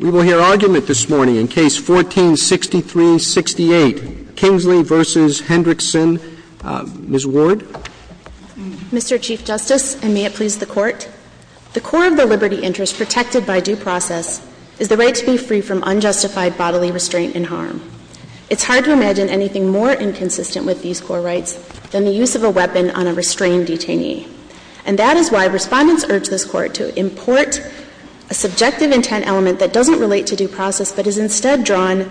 We will hear argument this morning in Case 14-6368, Kingsley v. Hendrickson. Ms. Ward. Mr. Chief Justice, and may it please the Court, the core of the liberty interest protected by due process is the right to be free from unjustified bodily restraint in harm. It's hard to imagine anything more inconsistent with these core rights than the use of a weapon on a restrained detainee. And that is why Respondents urge this Court to import a subjective intent element that doesn't relate to due process, but is instead drawn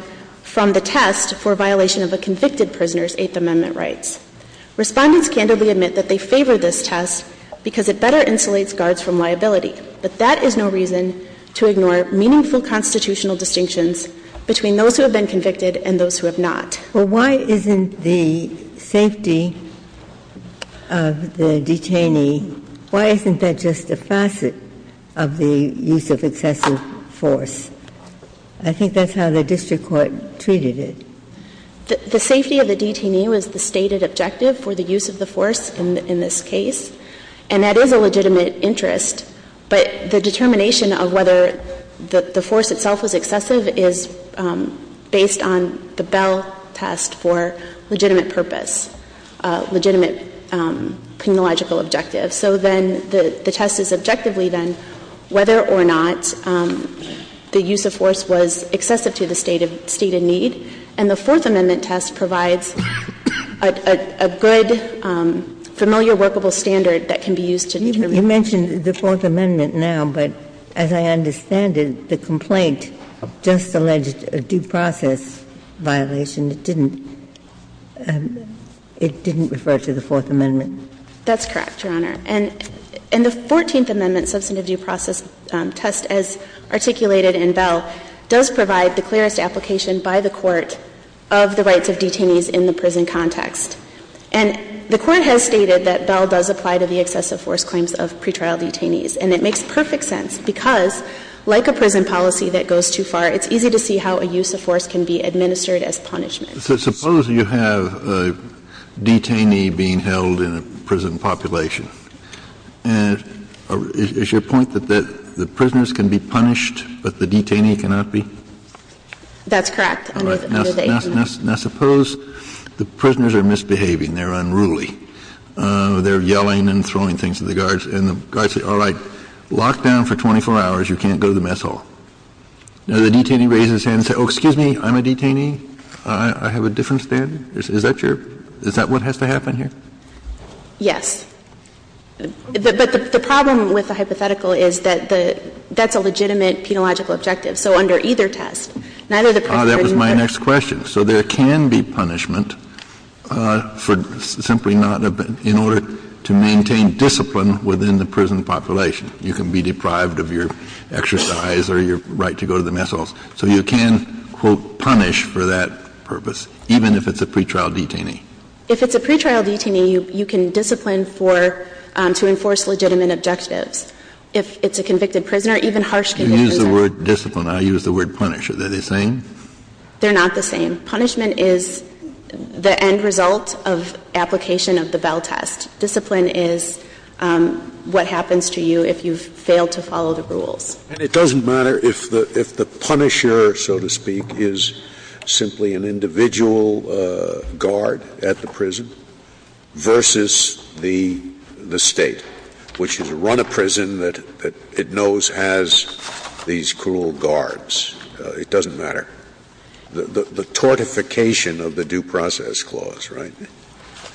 from the test for violation of a convicted prisoner's Eighth Amendment rights. Respondents candidly admit that they favor this test because it better insulates guards from liability. But that is no reason to ignore meaningful constitutional distinctions between those who have been convicted and those who have not. Ginsburg Why isn't the safety of the detainee, why isn't that just a facet of the use of excessive force? I think that's how the district court treated it. Ward The safety of the detainee was the stated objective for the use of the force in this case, and that is a legitimate interest. But the determination of whether the force itself was excessive is based on the Bell test for legitimate purpose, legitimate criminological objective. So then the test is objectively then whether or not the use of force was excessive to the state of need. And the Fourth Amendment test provides a good, familiar workable standard that can be used to determine that. Ginsburg You mentioned the Fourth Amendment now, but as I understand it, the complaint just alleged a due process violation, it didn't refer to the Fourth Amendment. Ward That's correct, Your Honor. And the Fourteenth Amendment substantive due process test, as articulated in Bell, does provide the clearest application by the Court of the rights of detainees in the prison context. And the Court has stated that Bell does apply to the excessive force claims of pretrial detainees, and it makes perfect sense because, like a prison policy that goes too far, it's easy to see how a use of force can be administered as punishment. Kennedy So suppose you have a detainee being held in a prison population. And is your point that the prisoners can be punished, but the detainee cannot be? Ward That's correct, under the Eighth Amendment. Kennedy Now, suppose the prisoners are misbehaving, they're unruly, they're yelling and throwing things at the guards, and the guards say, all right, lock down for 24 hours, you can't go to the mess hall. Now, the detainee raises his hand and says, oh, excuse me, I'm a detainee, I have a different standard? Is that your – is that what has to happen here? Ward Yes. But the problem with the hypothetical is that the – that's a legitimate penological objective. So under either test, neither the prisoners are being punished. Kennedy So there can be punishment for simply not – in order to maintain discipline within the prison population. You can be deprived of your exercise or your right to go to the mess halls. So you can, quote, punish for that purpose, even if it's a pretrial detainee? Ward If it's a pretrial detainee, you can discipline for – to enforce legitimate objectives. If it's a convicted prisoner, even harsh convicted prisoners. Kennedy You use the word discipline. I use the word punish. Are they the same? Ward They're not the same. Punishment is the end result of application of the Vell test. Discipline is what happens to you if you've failed to follow the rules. Scalia And it doesn't matter if the – if the punisher, so to speak, is simply an individual guard at the prison versus the State, which has run a prison that it knows has these cruel guards. It doesn't matter. The tortification of the due process clause, right? Ward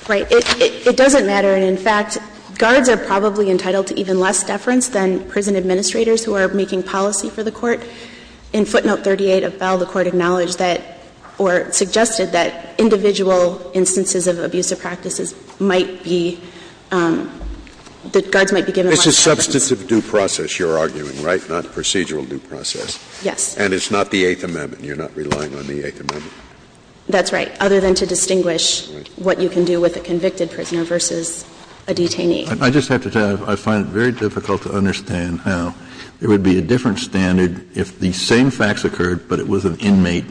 Right. It doesn't matter. And, in fact, guards are probably entitled to even less deference than prison administrators who are making policy for the Court. In footnote 38 of Vell, the Court acknowledged that – or suggested that individual instances of abusive practices might be – that guards might be given less deference. Scalia It's a substantive due process you're arguing, right, not procedural due process. Ward Yes. Scalia And it's not the Eighth Amendment. You're not relying on the Eighth Amendment. Ward That's right, other than to distinguish what you can do with a convicted prisoner versus a detainee. Kennedy I just have to tell you, I find it very difficult to understand how there would be a different standard if the same facts occurred but it was an inmate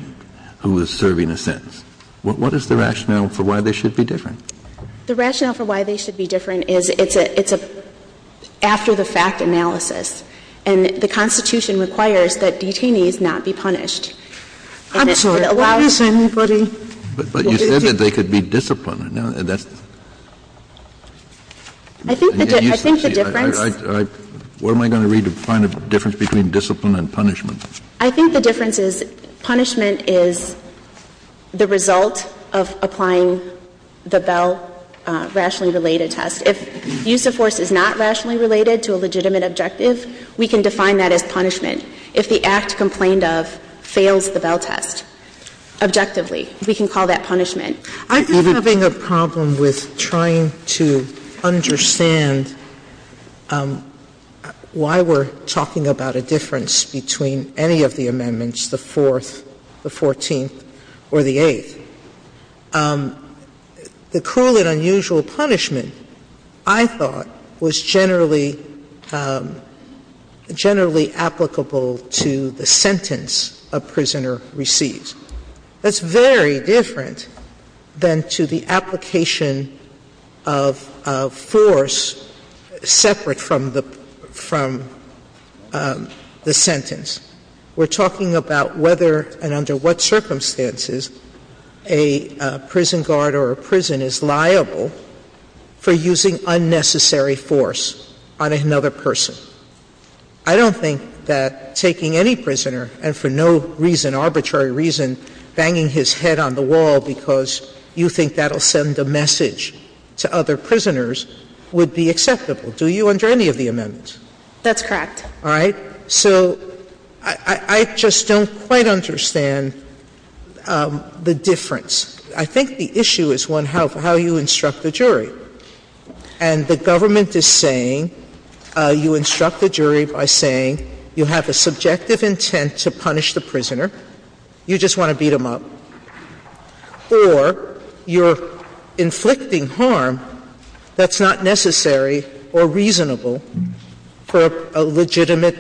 who was serving a sentence. What is the rationale for why they should be different? Ward The rationale for why they should be different is it's a – it's a after-the-fact analysis. And the Constitution requires that detainees not be punished. And it allows – Sotomayor I'm sorry. Why is anybody – Kennedy But you said that they could be disciplined. That's – Ward I think the difference – Kennedy What am I going to read to find a difference between discipline and punishment? Ward I think the difference is punishment is the result of applying the Vell rationally related test. If use of force is not rationally related to a legitimate objective, we can define that as punishment. If the act complained of fails the Vell test, objectively, we can call that punishment. Sotomayor I'm just having a problem with trying to understand why we're talking about a difference between any of the amendments, the Fourth, the Fourteenth, or the Eighth. The cruel and unusual punishment, I thought, was generally – generally applicable to the sentence a prisoner receives. That's very different than to the application of force separate from the – from the sentence. We're talking about whether and under what circumstances a prison guard or a prison is liable for using unnecessary force on another person. I don't think that taking any prisoner and for no reason, arbitrary reason, banging his head on the wall because you think that will send a message to other prisoners would be acceptable, do you, under any of the amendments? Ward That's correct. Sotomayor All right? So I just don't quite understand the difference. I think the issue is, one, how you instruct the jury. And the government is saying you instruct the jury by saying you have a subjective intent to punish the prisoner, you just want to beat him up, or you're inflicting harm that's not necessary or reasonable for a legitimate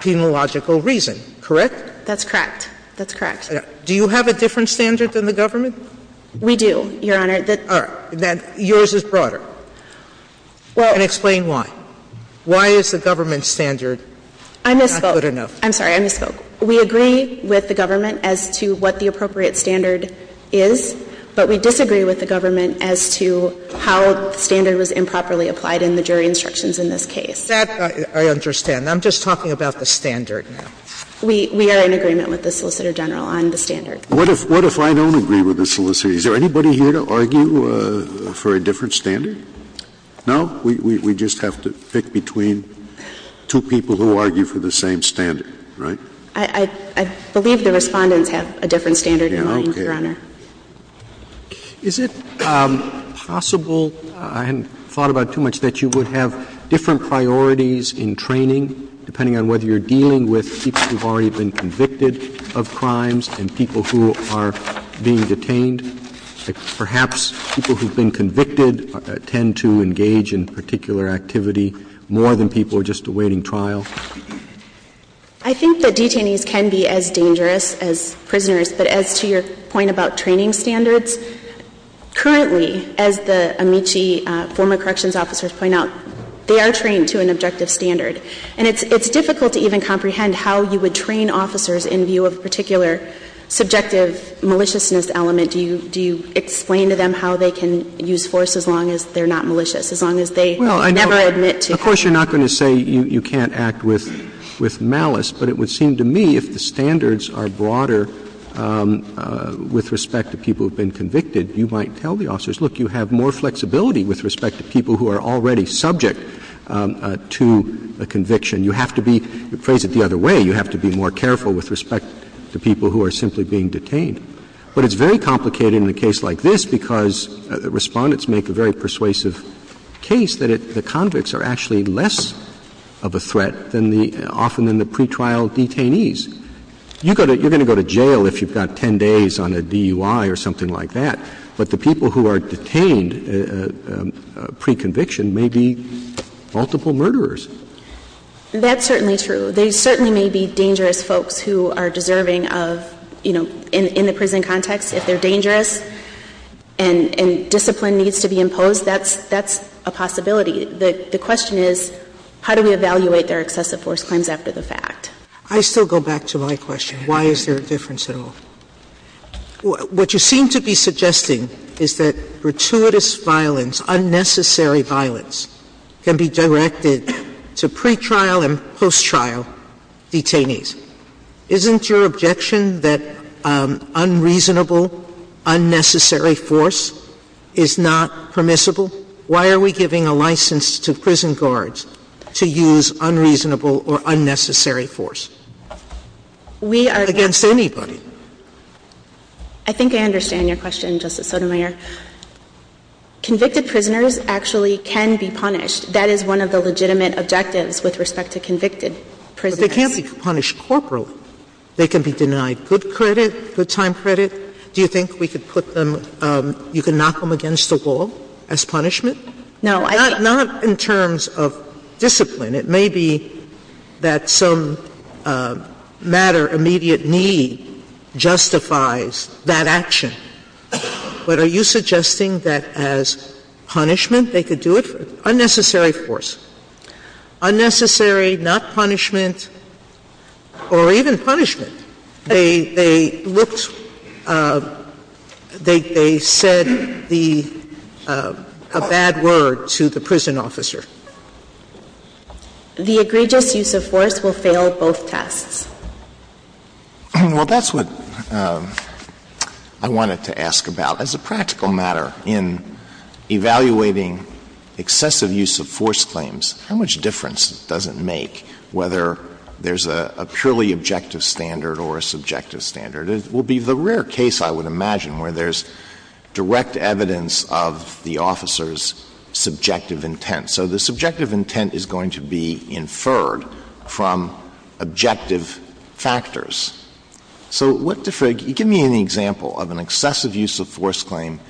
penological reason, correct? Ward That's correct. That's correct. Sotomayor Do you have a different standard than the government? Ward We do, Your Honor. Sotomayor All right. Then yours is broader. Ward Well – Sotomayor And explain why. Why is the government standard not good enough? Ward I misspoke. I'm sorry. I misspoke. We agree with the government as to what the appropriate standard is, but we disagree with the government as to how the standard was improperly applied in the jury instructions in this case. Sotomayor That I understand. I'm just talking about the standard now. Ward We are in agreement with the Solicitor General on the standard. Scalia What if I don't agree with the solicitor? Is there anybody here to argue for a different standard? No? We just have to pick between two people who argue for the same standard, right? Ward I believe the Respondents have a different standard in mind, Your Honor. Roberts Is it possible – I hadn't thought about it too much – that you would have different priorities in training, depending on whether you're dealing with people who have already been convicted of crimes and people who are being detained? Perhaps people who have been convicted tend to engage in particular activity more than people who are just awaiting trial? Ward I think that detainees can be as dangerous as prisoners, but as to your point about training standards, currently, as the Amici former corrections officers point out, they are trained to an objective standard. And it's difficult to even comprehend how you would train officers in view of a particular subjective maliciousness element. Do you explain to them how they can use force as long as they're not malicious, as long as they never admit to it? Roberts Of course, you're not going to say you can't act with malice, but it would have to be more careful with respect to people who have been convicted. You might tell the officers, look, you have more flexibility with respect to people who are already subject to a conviction. You have to be – to phrase it the other way, you have to be more careful with respect to people who are simply being detained. But it's very complicated in a case like this because Respondents make a very persuasive case that the convicts are actually less of a threat than the – often than the pretrial detainees. You're going to go to jail if you've got 10 days on a DUI or something like that. But the people who are detained pre-conviction may be multiple murderers. That's certainly true. There certainly may be dangerous folks who are deserving of, you know, in the prison context, if they're dangerous and discipline needs to be imposed, that's a possibility. The question is, how do we evaluate their excessive force claims after the fact? I still go back to my question, why is there a difference at all? What you seem to be suggesting is that gratuitous violence, unnecessary violence can be directed to pretrial and post-trial detainees. Isn't your objection that unreasonable, unnecessary force is not permissible? Why are we giving a license to prison guards to use unreasonable or unnecessary force against anybody? I think I understand your question, Justice Sotomayor. Convicted prisoners actually can be punished. That is one of the legitimate objectives with respect to convicted prisoners. But they can't be punished corporately. They can be denied good credit, good time credit. Do you think we could put them, you can knock them against the wall as punishment? No. Not in terms of discipline. It may be that some matter, immediate need justifies that action. But are you suggesting that as punishment they could do it? Unnecessary force. Unnecessary, not punishment, or even punishment. They looked, they said the, a bad word to the prison officer. The egregious use of force will fail both tests. Well, that's what I wanted to ask about. As a practical matter, in evaluating excessive use of force claims, how much difference does it make whether there's a purely objective standard or a subjective standard? It will be the rare case, I would imagine, where there's direct evidence of the officer's subjective intent. So the subjective intent is going to be inferred from objective factors. So what, give me an example of an excessive use of force claim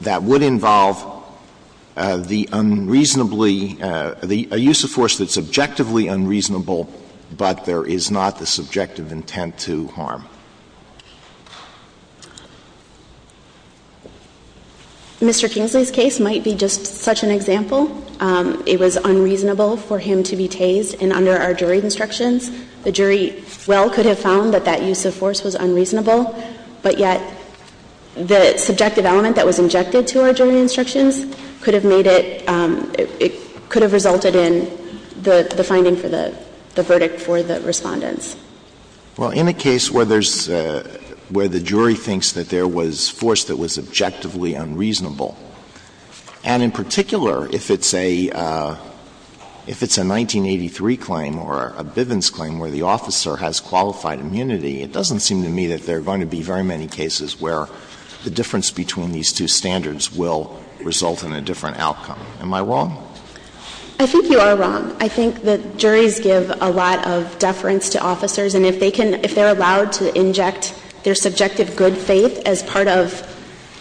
that would involve the unreasonably, a use of force that's objectively unreasonable, but there is not the subjective intent to harm. Mr. Kingsley's case might be just such an example. It was unreasonable for him to be tased. And under our jury instructions, the jury well could have found that that use of force was unreasonable. But yet, the subjective element that was injected to our jury instructions could have made it, it could have resulted in the finding for the verdict for the respondents. Well, in a case where there's, where the jury thinks that there was force that was objectively unreasonable, and in particular if it's a, if it's a 1983 claim or a Bivens claim where the officer has qualified immunity, it doesn't seem to me that they're going to be very many cases where the difference between these two standards will result in a different outcome. Am I wrong? I think you are wrong. I think that juries give a lot of deference to officers, and if they can, if they're allowed to inject their subjective good faith as part of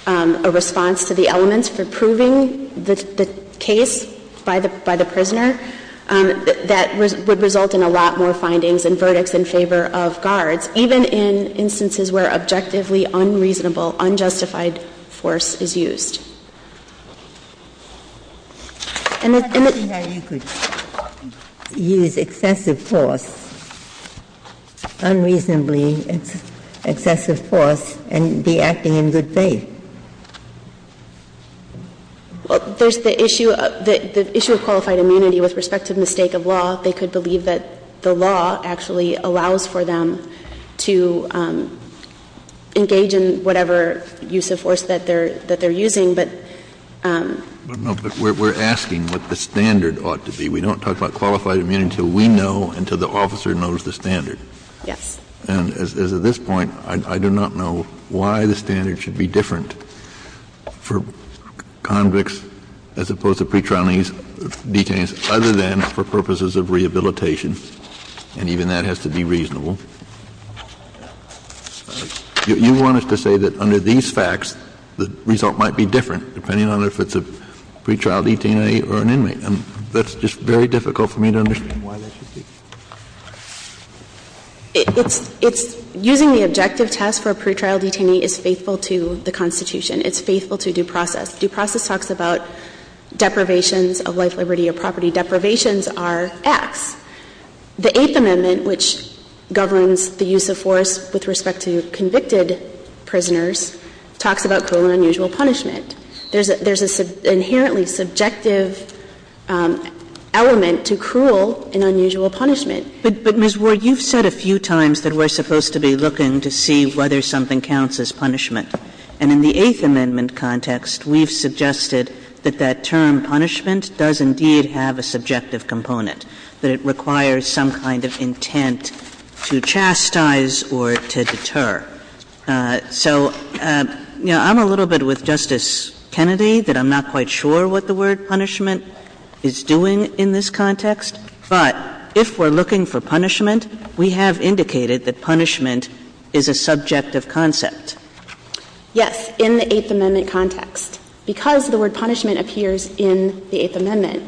a response to the elements for proving the case by the prisoner, that would result in a lot more findings and verdicts in favor of guards. Even in instances where objectively unreasonable, unjustified force is used. And it's in the... I'm not saying that you could use excessive force, unreasonably excessive force and be acting in good faith. Well, there's the issue of, the issue of qualified immunity with respect to the mistake of law, they could believe that the law actually allows for them to engage in whatever use of force that they're, that they're using, but... No, but we're asking what the standard ought to be. We don't talk about qualified immunity until we know, until the officer knows the standard. Yes. And as of this point, I do not know why the standard should be different for convicts as opposed to pretrial detainees, other than for purposes of rehabilitation. And even that has to be reasonable. You want us to say that under these facts, the result might be different, depending on if it's a pretrial detainee or an inmate, and that's just very difficult for me to understand why that should be. It's, it's, using the objective test for a pretrial detainee is faithful to the Constitution. It's faithful to due process. Due process talks about deprivations of life, liberty, or property. Deprivations are X. The Eighth Amendment, which governs the use of force with respect to convicted prisoners, talks about cruel and unusual punishment. There's a, there's an inherently subjective element to cruel and unusual punishment. But, but, Ms. Ward, you've said a few times that we're supposed to be looking to see whether something counts as punishment. And in the Eighth Amendment context, we've suggested that that term, punishment, does indeed have a subjective component, that it requires some kind of intent to chastise or to deter. So, you know, I'm a little bit with Justice Kennedy that I'm not quite sure what the word punishment is doing in this context. But if we're looking for punishment, we have indicated that punishment is a subjective concept. Yes. In the Eighth Amendment context. Because the word punishment appears in the Eighth Amendment.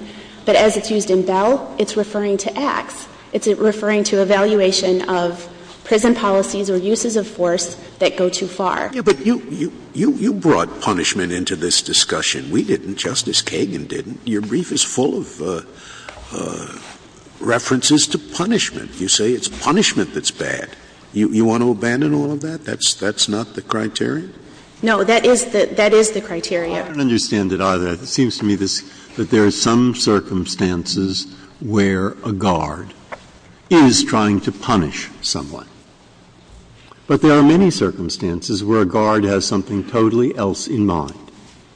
But as it's used in Bell, it's referring to X. It's referring to evaluation of prison policies or uses of force that go too far. Yeah, but you, you brought punishment into this discussion. We didn't. Justice Kagan didn't. Your brief is full of references to punishment. You say it's punishment that's bad. You want to abandon all of that? That's not the criteria? No, that is the criteria. I don't understand it either. It seems to me that there are some circumstances where a guard is trying to punish someone. But there are many circumstances where a guard has something totally else in mind.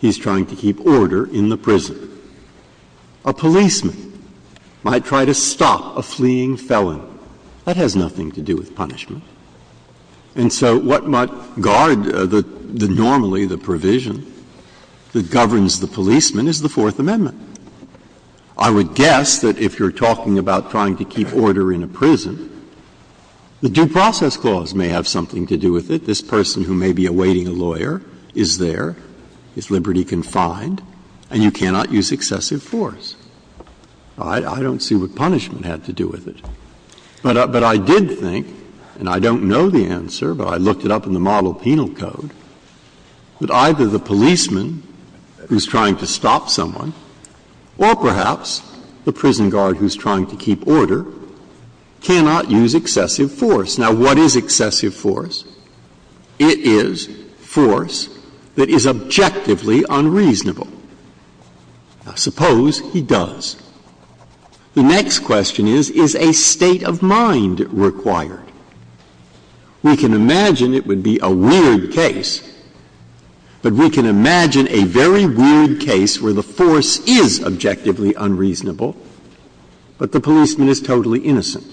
He's trying to keep order in the prison. A policeman might try to stop a fleeing felon. That has nothing to do with punishment. And so what might guard the normally, the provision that governs the policeman is the Fourth Amendment. I would guess that if you're talking about trying to keep order in a prison, the Due Process Clause may have something to do with it. This person who may be awaiting a lawyer is there, is liberty-confined, and you cannot use excessive force. I don't see what punishment had to do with it. But I did think, and I don't know the answer, but I looked it up in the Model Penal Code, that either the policeman who's trying to stop someone or perhaps the prison guard who's trying to keep order cannot use excessive force. Now, what is excessive force? It is force that is objectively unreasonable. Now, suppose he does. The next question is, is a state of mind required? We can imagine it would be a weird case, but we can imagine a very weird case where the force is objectively unreasonable, but the policeman is totally innocent.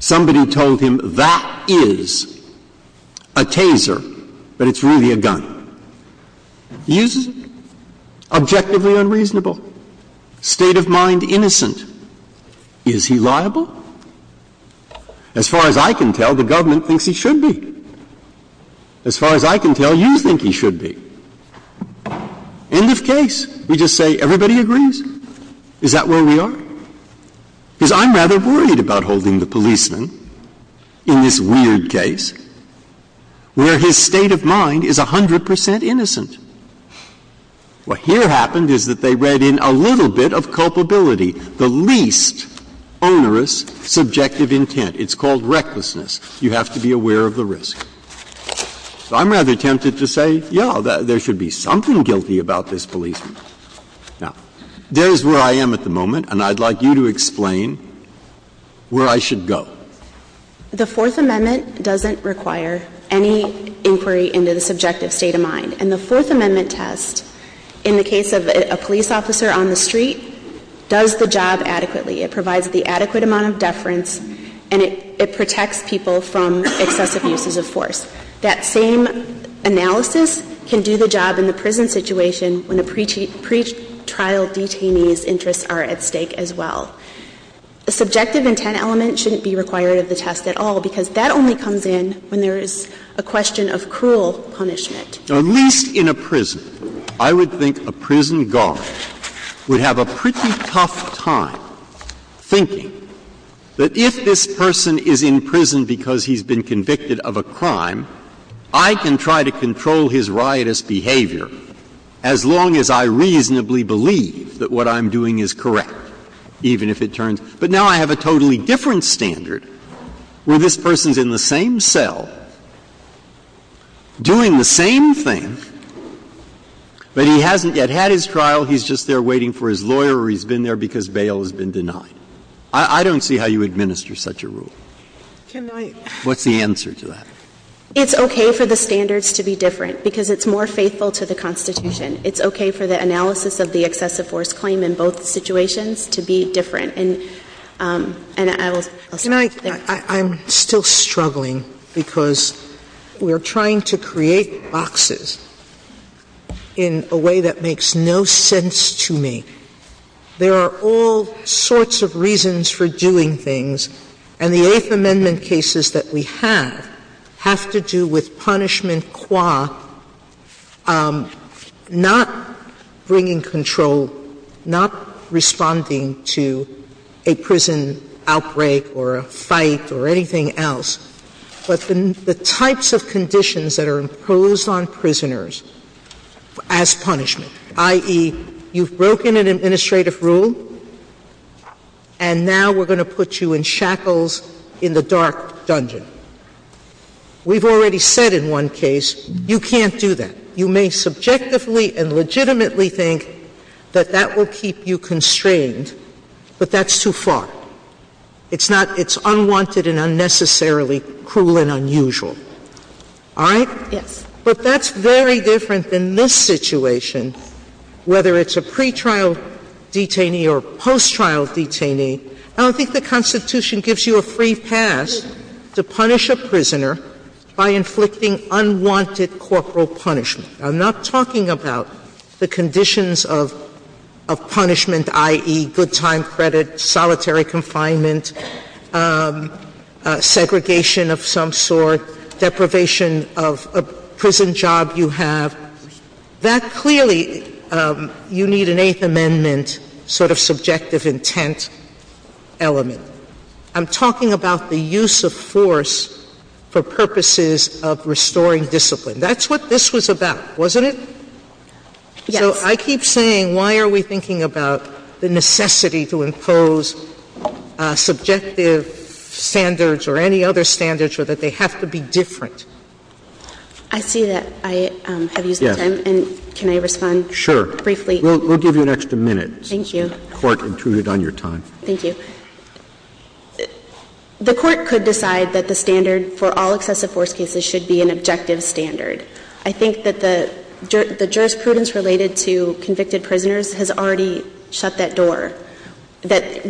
Somebody told him that is a taser, but it's really a gun. He uses it. Objectively unreasonable. State of mind innocent. Is he liable? As far as I can tell, the government thinks he should be. As far as I can tell, you think he should be. End of case. We just say everybody agrees. Is that where we are? Because I'm rather worried about holding the policeman in this weird case where his state of mind is 100 percent innocent. What here happened is that they read in a little bit of culpability, the least onerous subjective intent. It's called recklessness. You have to be aware of the risk. So I'm rather tempted to say, yes, there should be something guilty about this policeman. Now, there is where I am at the moment, and I'd like you to explain where I should go. The Fourth Amendment doesn't require any inquiry into the subjective state of mind. And the Fourth Amendment test, in the case of a police officer on the street, does the job adequately. It provides the adequate amount of deference, and it protects people from excessive uses of force. That same analysis can do the job in the prison situation when a pretrial detainee's interests are at stake as well. The subjective intent element shouldn't be required of the test at all, because that only comes in when there is a question of cruel punishment. Now, at least in a prison, I would think a prison guard would have a pretty tough time thinking that if this person is in prison because he's been convicted of a crime, I can try to control his riotous behavior as long as I reasonably believe that what I'm doing is correct, even if it turns. But now I have a totally different standard where this person's in the same cell doing the same thing, but he hasn't yet had his trial. He's just there waiting for his lawyer or he's been there because bail has been denied. I don't see how you administer such a rule. What's the answer to that? It's okay for the standards to be different, because it's more faithful to the Constitution. It's okay for the analysis of the excessive force claim in both situations to be different. And I will stop there. Sotomayor, I'm still struggling because we are trying to create boxes in a way that makes no sense to me. There are all sorts of reasons for doing things, and the Eighth Amendment cases that we have have to do with punishment qua not bringing control, not responding to a prison outbreak or a fight or anything else, but the types of conditions that are imposed on prisoners as punishment, i.e., you've broken an administrative rule, and now we're going to put you in shackles in the dark dungeon. We've already said in one case, you can't do that. You may subjectively and legitimately think that that will keep you constrained, but that's too far. It's not — it's unwanted and unnecessarily cruel and unusual. All right? Yes. But that's very different than this situation, whether it's a pretrial detainee or a post-trial detainee. I don't think the Constitution gives you a free pass to punish a prisoner by inflicting unwanted corporal punishment. I'm not talking about the conditions of punishment, i.e., good time credit, solitary confinement, segregation of some sort, deprivation of a prison job you have. That clearly — you need an Eighth Amendment sort of subjective intent element. I'm talking about the use of force for purposes of restoring discipline. That's what this was about, wasn't it? Yes. So I keep saying, why are we thinking about the necessity to impose subjective standards or any other standards or that they have to be different? I see that I have used my time. Yes. And can I respond briefly? Sure. We'll give you an extra minute. Thank you. Court intruded on your time. Thank you. The Court could decide that the standard for all excessive force cases should be an objective standard. I think that the jurisprudence related to convicted prisoners has already shut that door in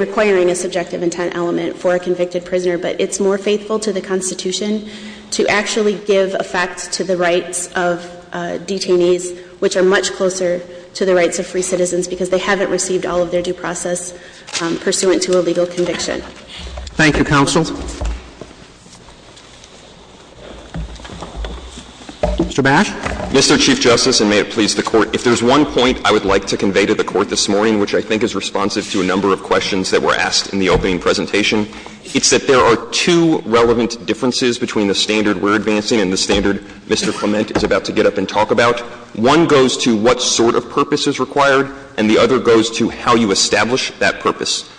requiring a subjective intent element for a convicted prisoner. But it's more faithful to the Constitution to actually give effect to the rights of detainees, which are much closer to the rights of free citizens because they haven't received all of their due process pursuant to a legal conviction. Thank you, counsel. Mr. Bash. Mr. Chief Justice, and may it please the Court. If there's one point I would like to convey to the Court this morning, which I think is responsive to a number of questions that were asked in the opening presentation, it's that there are two relevant differences between the standard we're advancing and the standard Mr. Clement is about to get up and talk about. One goes to what sort of purpose is required, and the other goes to how you establish that purpose.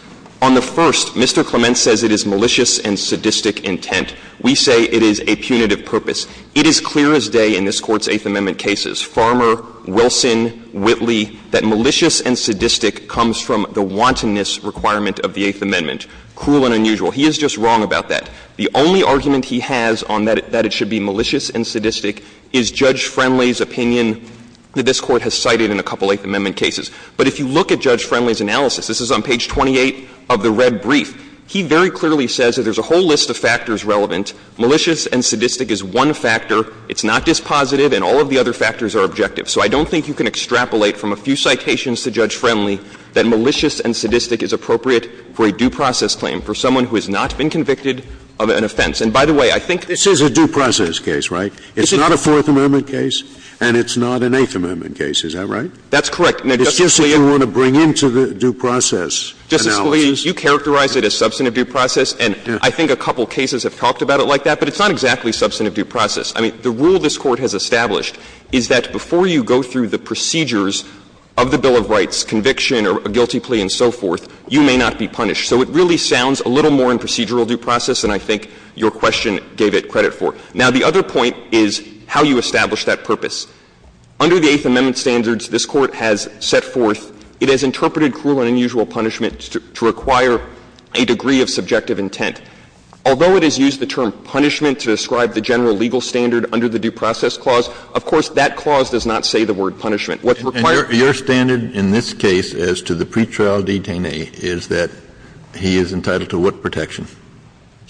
On the first, Mr. Clement says it is malicious and sadistic intent. We say it is a punitive purpose. It is clear as day in this Court's Eighth Amendment cases, Farmer, Wilson, Whitley, that malicious and sadistic comes from the wantonness requirement of the Eighth Amendment, cruel and unusual. He is just wrong about that. The only argument he has on that it should be malicious and sadistic is Judge Friendly's opinion that this Court has cited in a couple of Eighth Amendment cases. But if you look at Judge Friendly's analysis, this is on page 28 of the red brief, he very clearly says that there's a whole list of factors relevant. Malicious and sadistic is one factor. It's not dispositive, and all of the other factors are objective. So I don't think you can extrapolate from a few citations to Judge Friendly that malicious and sadistic is appropriate for a due process claim, for someone who has not been convicted of an offense. And by the way, I think this is a due process case, right? It's not a Fourth Amendment case and it's not an Eighth Amendment case, is that right? That's correct. It's just that you want to bring into the due process analysis. Justice Scalia, you characterize it as substantive due process, and I think a couple cases have talked about it like that, but it's not exactly substantive due process. I mean, the rule this Court has established is that before you go through the procedures of the Bill of Rights conviction or a guilty plea and so forth, you may not be punished. So it really sounds a little more in procedural due process than I think your question gave it credit for. Now, the other point is how you establish that purpose. Under the Eighth Amendment standards, this Court has set forth, it has interpreted cruel and unusual punishment to require a degree of subjective intent. Although it has used the term punishment to describe the general legal standard under the Due Process Clause, of course, that clause does not say the word punishment. And your standard in this case as to the pretrial detainee is that he is entitled to what protection?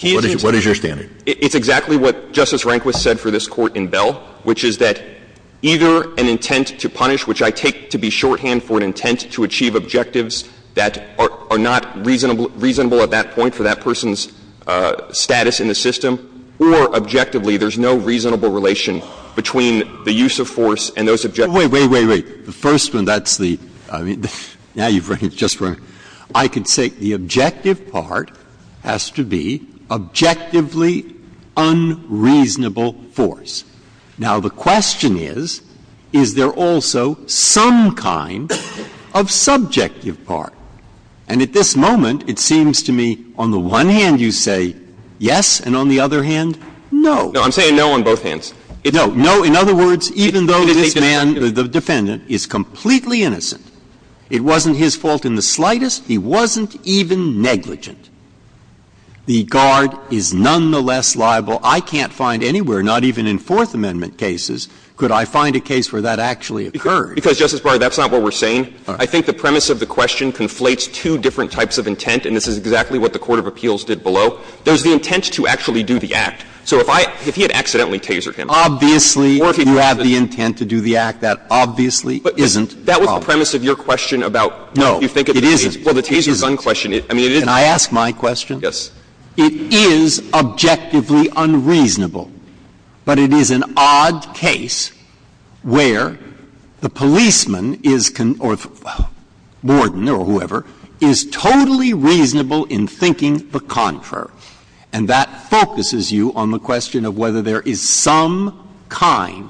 What is your standard? It's exactly what Justice Rehnquist said for this Court in Bell, which is that either an intent to punish, which I take to be shorthand for an intent to achieve objectives that are not reasonable at that point for that person's status in the system, or objectively there's no reasonable relation between the use of force and those objectives. Wait, wait, wait, wait. The first one, that's the, I mean, now you've just run, I could say the objective part has to be objectively unreasonable force. Now, the question is, is there also some kind of subjective part? And at this moment, it seems to me on the one hand you say yes, and on the other hand, no. No, I'm saying no on both hands. No. No, in other words, even though this man, the defendant, is completely innocent, it wasn't his fault in the slightest, he wasn't even negligent, the guard is nonetheless liable, I can't find anywhere, not even in Fourth Amendment cases, could I find a case where that actually occurred. Because, Justice Breyer, that's not what we're saying. I think the premise of the question conflates two different types of intent, and this is exactly what the court of appeals did below. There's the intent to actually do the act. So if I, if he had accidentally tasered him. Obviously, you have the intent to do the act. That obviously isn't probable. That was the premise of your question about what you think of the tasers. No, it isn't. Well, the tasers unquestion it. I mean, it is. Can I ask my question? Yes. It is objectively unreasonable, but it is an odd case where the policeman is, or warden or whoever, is totally reasonable in thinking the contrary, and that focuses you on the question of whether there is some kind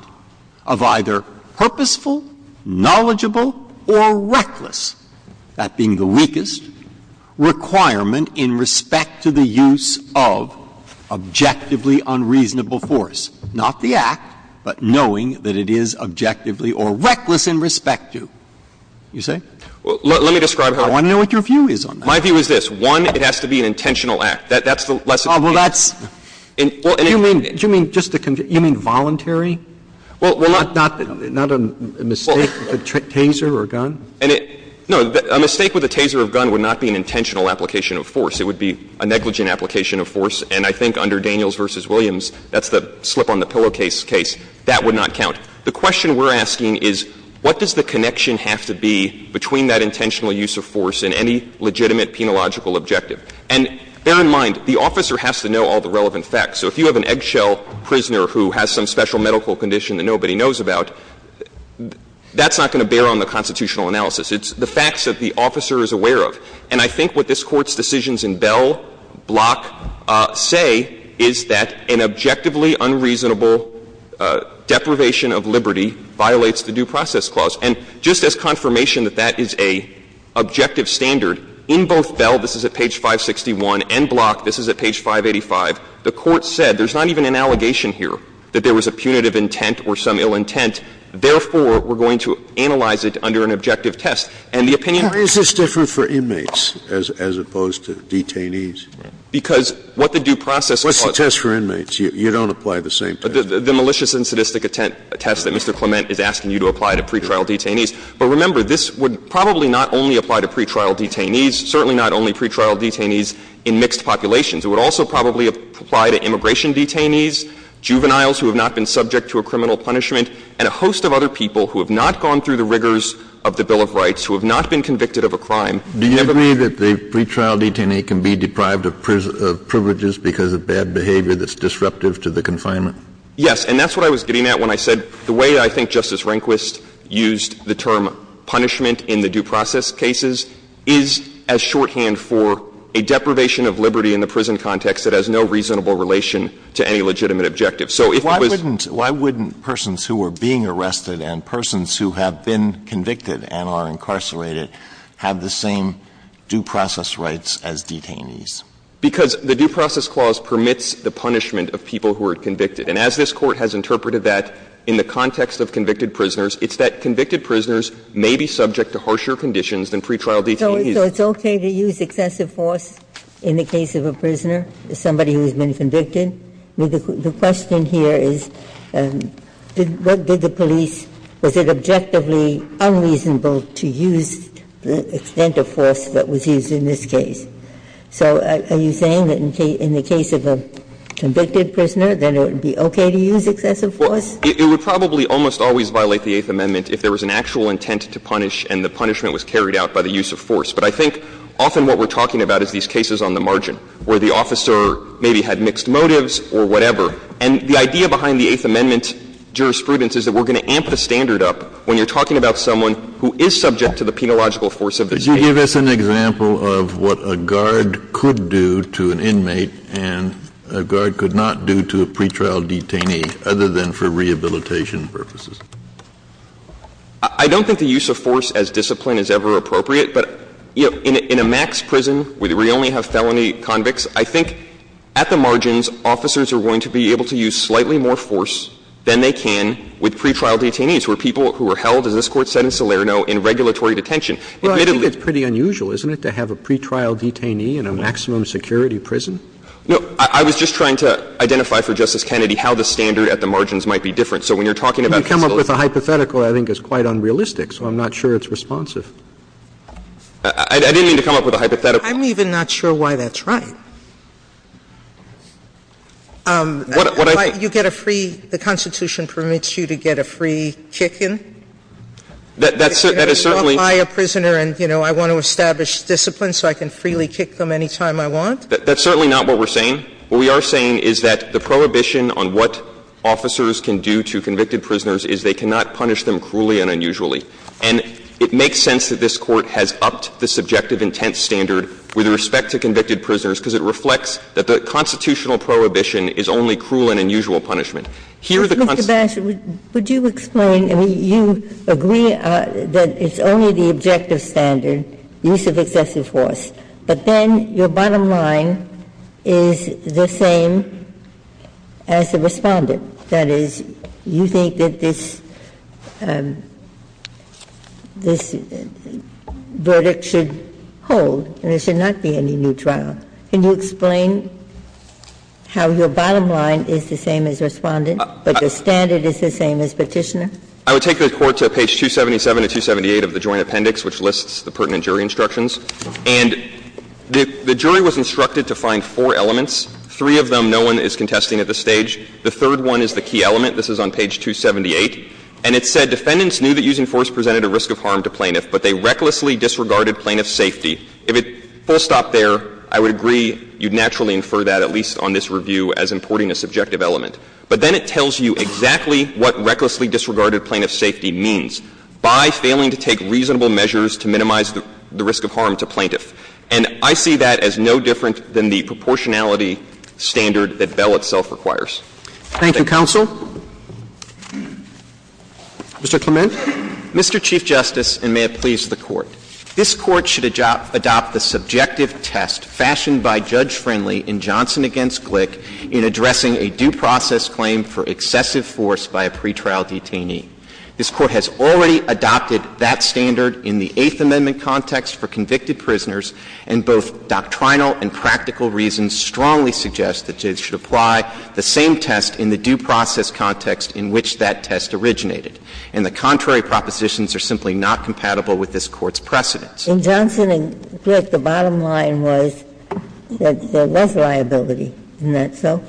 of either purposeful, knowledgeable, or reckless, that being the weakest, requirement in respect to the use of objectively unreasonable force. Not the act, but knowing that it is objectively or reckless in respect to, you say? Let me describe how it works. I want to know what your view is on that. My view is this. That's the lesson here. Well, that's you mean, just to confirm, you mean voluntary? Well, not a mistake with a taser or a gun? No, a mistake with a taser or a gun would not be an intentional application of force. It would be a negligent application of force. And I think under Daniels v. Williams, that's the slip on the pillowcase case, that would not count. The question we're asking is what does the connection have to be between that intentional use of force and any legitimate, penological objective? And bear in mind, the officer has to know all the relevant facts. So if you have an eggshell prisoner who has some special medical condition that nobody knows about, that's not going to bear on the constitutional analysis. It's the facts that the officer is aware of. And I think what this Court's decisions in Bell, Block say is that an objectively unreasonable deprivation of liberty violates the Due Process Clause. And just as confirmation that that is a objective standard, in both Bell, this is at page 561, and Block, this is at page 585. The Court said there's not even an allegation here that there was a punitive intent or some ill intent. Therefore, we're going to analyze it under an objective test. And the opinion of the Court is that it's a punitive intent. Scalia. Is this different for inmates as opposed to detainees? Because what the due process clause is. What's the test for inmates? You don't apply the same test. The malicious and sadistic attempt, a test that Mr. Clement is asking you to apply to pretrial detainees. But remember, this would probably not only apply to pretrial detainees, certainly not only pretrial detainees in mixed populations. It would also probably apply to immigration detainees, juveniles who have not been subject to a criminal punishment, and a host of other people who have not gone through the rigors of the Bill of Rights, who have not been convicted of a crime. Kennedy. Do you agree that the pretrial detainee can be deprived of privileges because of bad behavior that's disruptive to the confinement? Yes. And that's what I was getting at when I said the way I think Justice Rehnquist used the term punishment in the due process cases is as shorthand for a deprivation of liberty in the prison context that has no reasonable relation to any legitimate objective. So if it was why wouldn't persons who were being arrested and persons who have been convicted and are incarcerated have the same due process rights as detainees? Because the due process clause permits the punishment of people who are convicted. And as this Court has interpreted that in the context of convicted prisoners, it's that convicted prisoners may be subject to harsher conditions than pretrial detainees. So it's okay to use excessive force in the case of a prisoner, somebody who has been convicted? The question here is what did the police – was it objectively unreasonable to use the extent of force that was used in this case? So are you saying that in the case of a convicted prisoner, that it would be okay to use excessive force? Well, it would probably almost always violate the Eighth Amendment if there was an actual intent to punish and the punishment was carried out by the use of force. But I think often what we're talking about is these cases on the margin where the officer maybe had mixed motives or whatever. And the idea behind the Eighth Amendment jurisprudence is that we're going to amp the standard up when you're talking about someone who is subject to the penological force of the case. Kennedy, did you give us an example of what a guard could do to an inmate and a guard could not do to a pretrial detainee other than for rehabilitation purposes? I don't think the use of force as discipline is ever appropriate. But, you know, in a max prison where you only have felony convicts, I think at the margins, officers are going to be able to use slightly more force than they can with pretrial detainees, where people who are held, as this Court said in Salerno, in regulatory detention. Well, I think it's pretty unusual, isn't it, to have a pretrial detainee in a maximum security prison? No. I was just trying to identify for Justice Kennedy how the standard at the margins might be different. So when you're talking about facilities. You come up with a hypothetical that I think is quite unrealistic, so I'm not sure it's responsive. I didn't mean to come up with a hypothetical. I'm even not sure why that's right. You get a free — the Constitution permits you to get a free kick-in. That is certainly. I am a prisoner and, you know, I want to establish discipline so I can freely kick them any time I want. That's certainly not what we're saying. What we are saying is that the prohibition on what officers can do to convicted prisoners is they cannot punish them cruelly and unusually. And it makes sense that this Court has upped the subjective intent standard with respect to convicted prisoners, because it reflects that the constitutional prohibition is only cruel and unusual punishment. Here, the Constitution. Can I provide my answer? My answer is yes. Sebastian, would you explain? You agree that it's only the objective standard, the use of excessive force, but then your bottom line is the same as the Respondent. That is, you think that this verdict should hold, and there should not be any new trial. Can you explain how your bottom line is the same as Respondent, but the standard is the same as Petitioner? I would take the Court to page 277 to 278 of the Joint Appendix, which lists the pertinent jury instructions. And the jury was instructed to find four elements, three of them no one is contesting at this stage. The third one is the key element. This is on page 278. And it said, Defendants knew that using force presented a risk of harm to plaintiff, but they recklessly disregarded plaintiff's safety. If it full-stopped there, I would agree you'd naturally infer that, at least on this review, as importing a subjective element. But then it tells you exactly what recklessly disregarded plaintiff's safety means, by failing to take reasonable measures to minimize the risk of harm to plaintiff. And I see that as no different than the proportionality standard that Bell itself requires. Thank you, counsel. Mr. Clement. Mr. Chief Justice, and may it please the Court. This Court should adopt the subjective test fashioned by Judge Friendly in Johnson v. Glick in addressing a due process claim for excessive force by a pretrial detainee. This Court has already adopted that standard in the Eighth Amendment context for convicted prisoners, and both doctrinal and practical reasons strongly suggest that it should apply the same test in the due process context in which that test originated. And the contrary propositions are simply not compatible with this Court's precedents. In Johnson v. Glick, the bottom line was that there was liability. Isn't that so?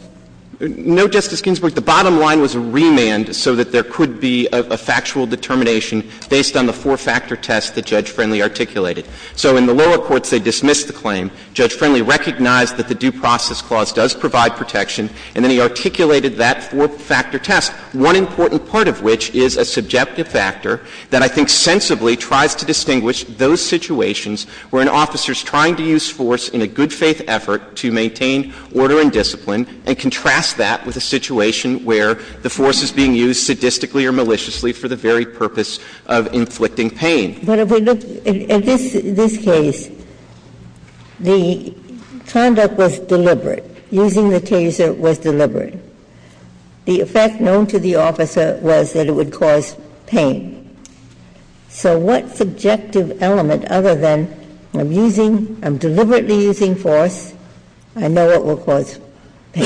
No, Justice Ginsburg. The bottom line was remand so that there could be a factual determination based on the four-factor test that Judge Friendly articulated. So in the lower courts, they dismissed the claim. Judge Friendly recognized that the due process clause does provide protection, and then he articulated that four-factor test, one important part of which is a subjective factor that I think sensibly tries to distinguish those situations where an officer is trying to use force in a good-faith effort to maintain order and discipline and contrast that with a situation where the force is being used sadistically or maliciously for the very purpose of inflicting pain. Ginsburg, but if we look at this case, the conduct was deliberate. Using the taser was deliberate. The effect known to the officer was that it would cause pain. So what subjective element other than I'm using, I'm deliberately using force, I know it will cause pain?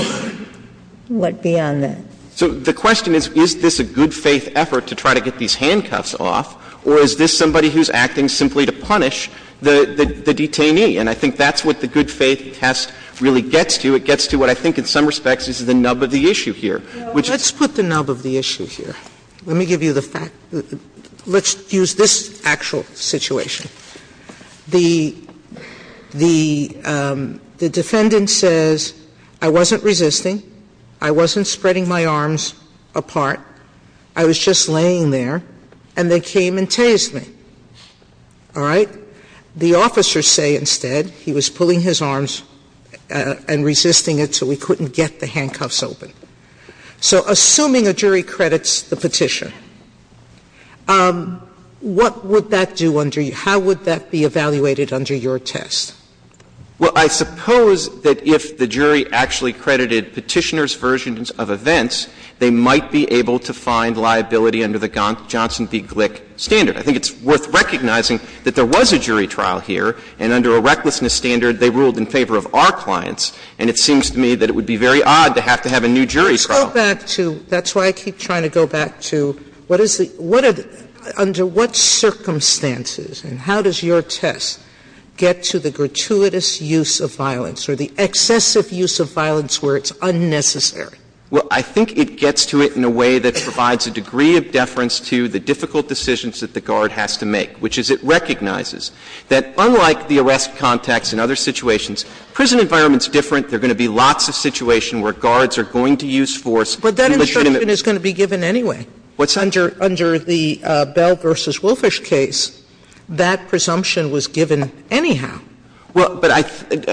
What beyond that? So the question is, is this a good-faith effort to try to get these handcuffs off, or is this somebody who's acting simply to punish the detainee? And I think that's what the good-faith test really gets to. It gets to what I think in some respects is the nub of the issue here, which is the fact that the defendant says, I wasn't resisting, I wasn't spreading my arms apart, And they came and tased me, all right? The officers say instead he was pulling his arms and resisting it so we couldn't get the handcuffs open. So assuming a jury credits the Petitioner, what would that do under you? How would that be evaluated under your test? Well, I suppose that if the jury actually credited Petitioner's version of events, they might be able to find liability under the Johnson v. Glick standard. I think it's worth recognizing that there was a jury trial here, and under a recklessness standard they ruled in favor of our clients. And it seems to me that it would be very odd to have to have a new jury trial. Sotomayor, that's why I keep trying to go back to what is the – under what circumstances and how does your test get to the gratuitous use of violence or the excessive use of violence where it's unnecessary? Well, I think it gets to it in a way that provides a degree of deference to the difficult decisions that the guard has to make, which is it recognizes that unlike the arrest contacts in other situations, prison environment is different. There are going to be lots of situations where guards are going to use force. But that instruction is going to be given anyway. What's under the Bell v. Wilfish case, that presumption was given anyhow. Well, but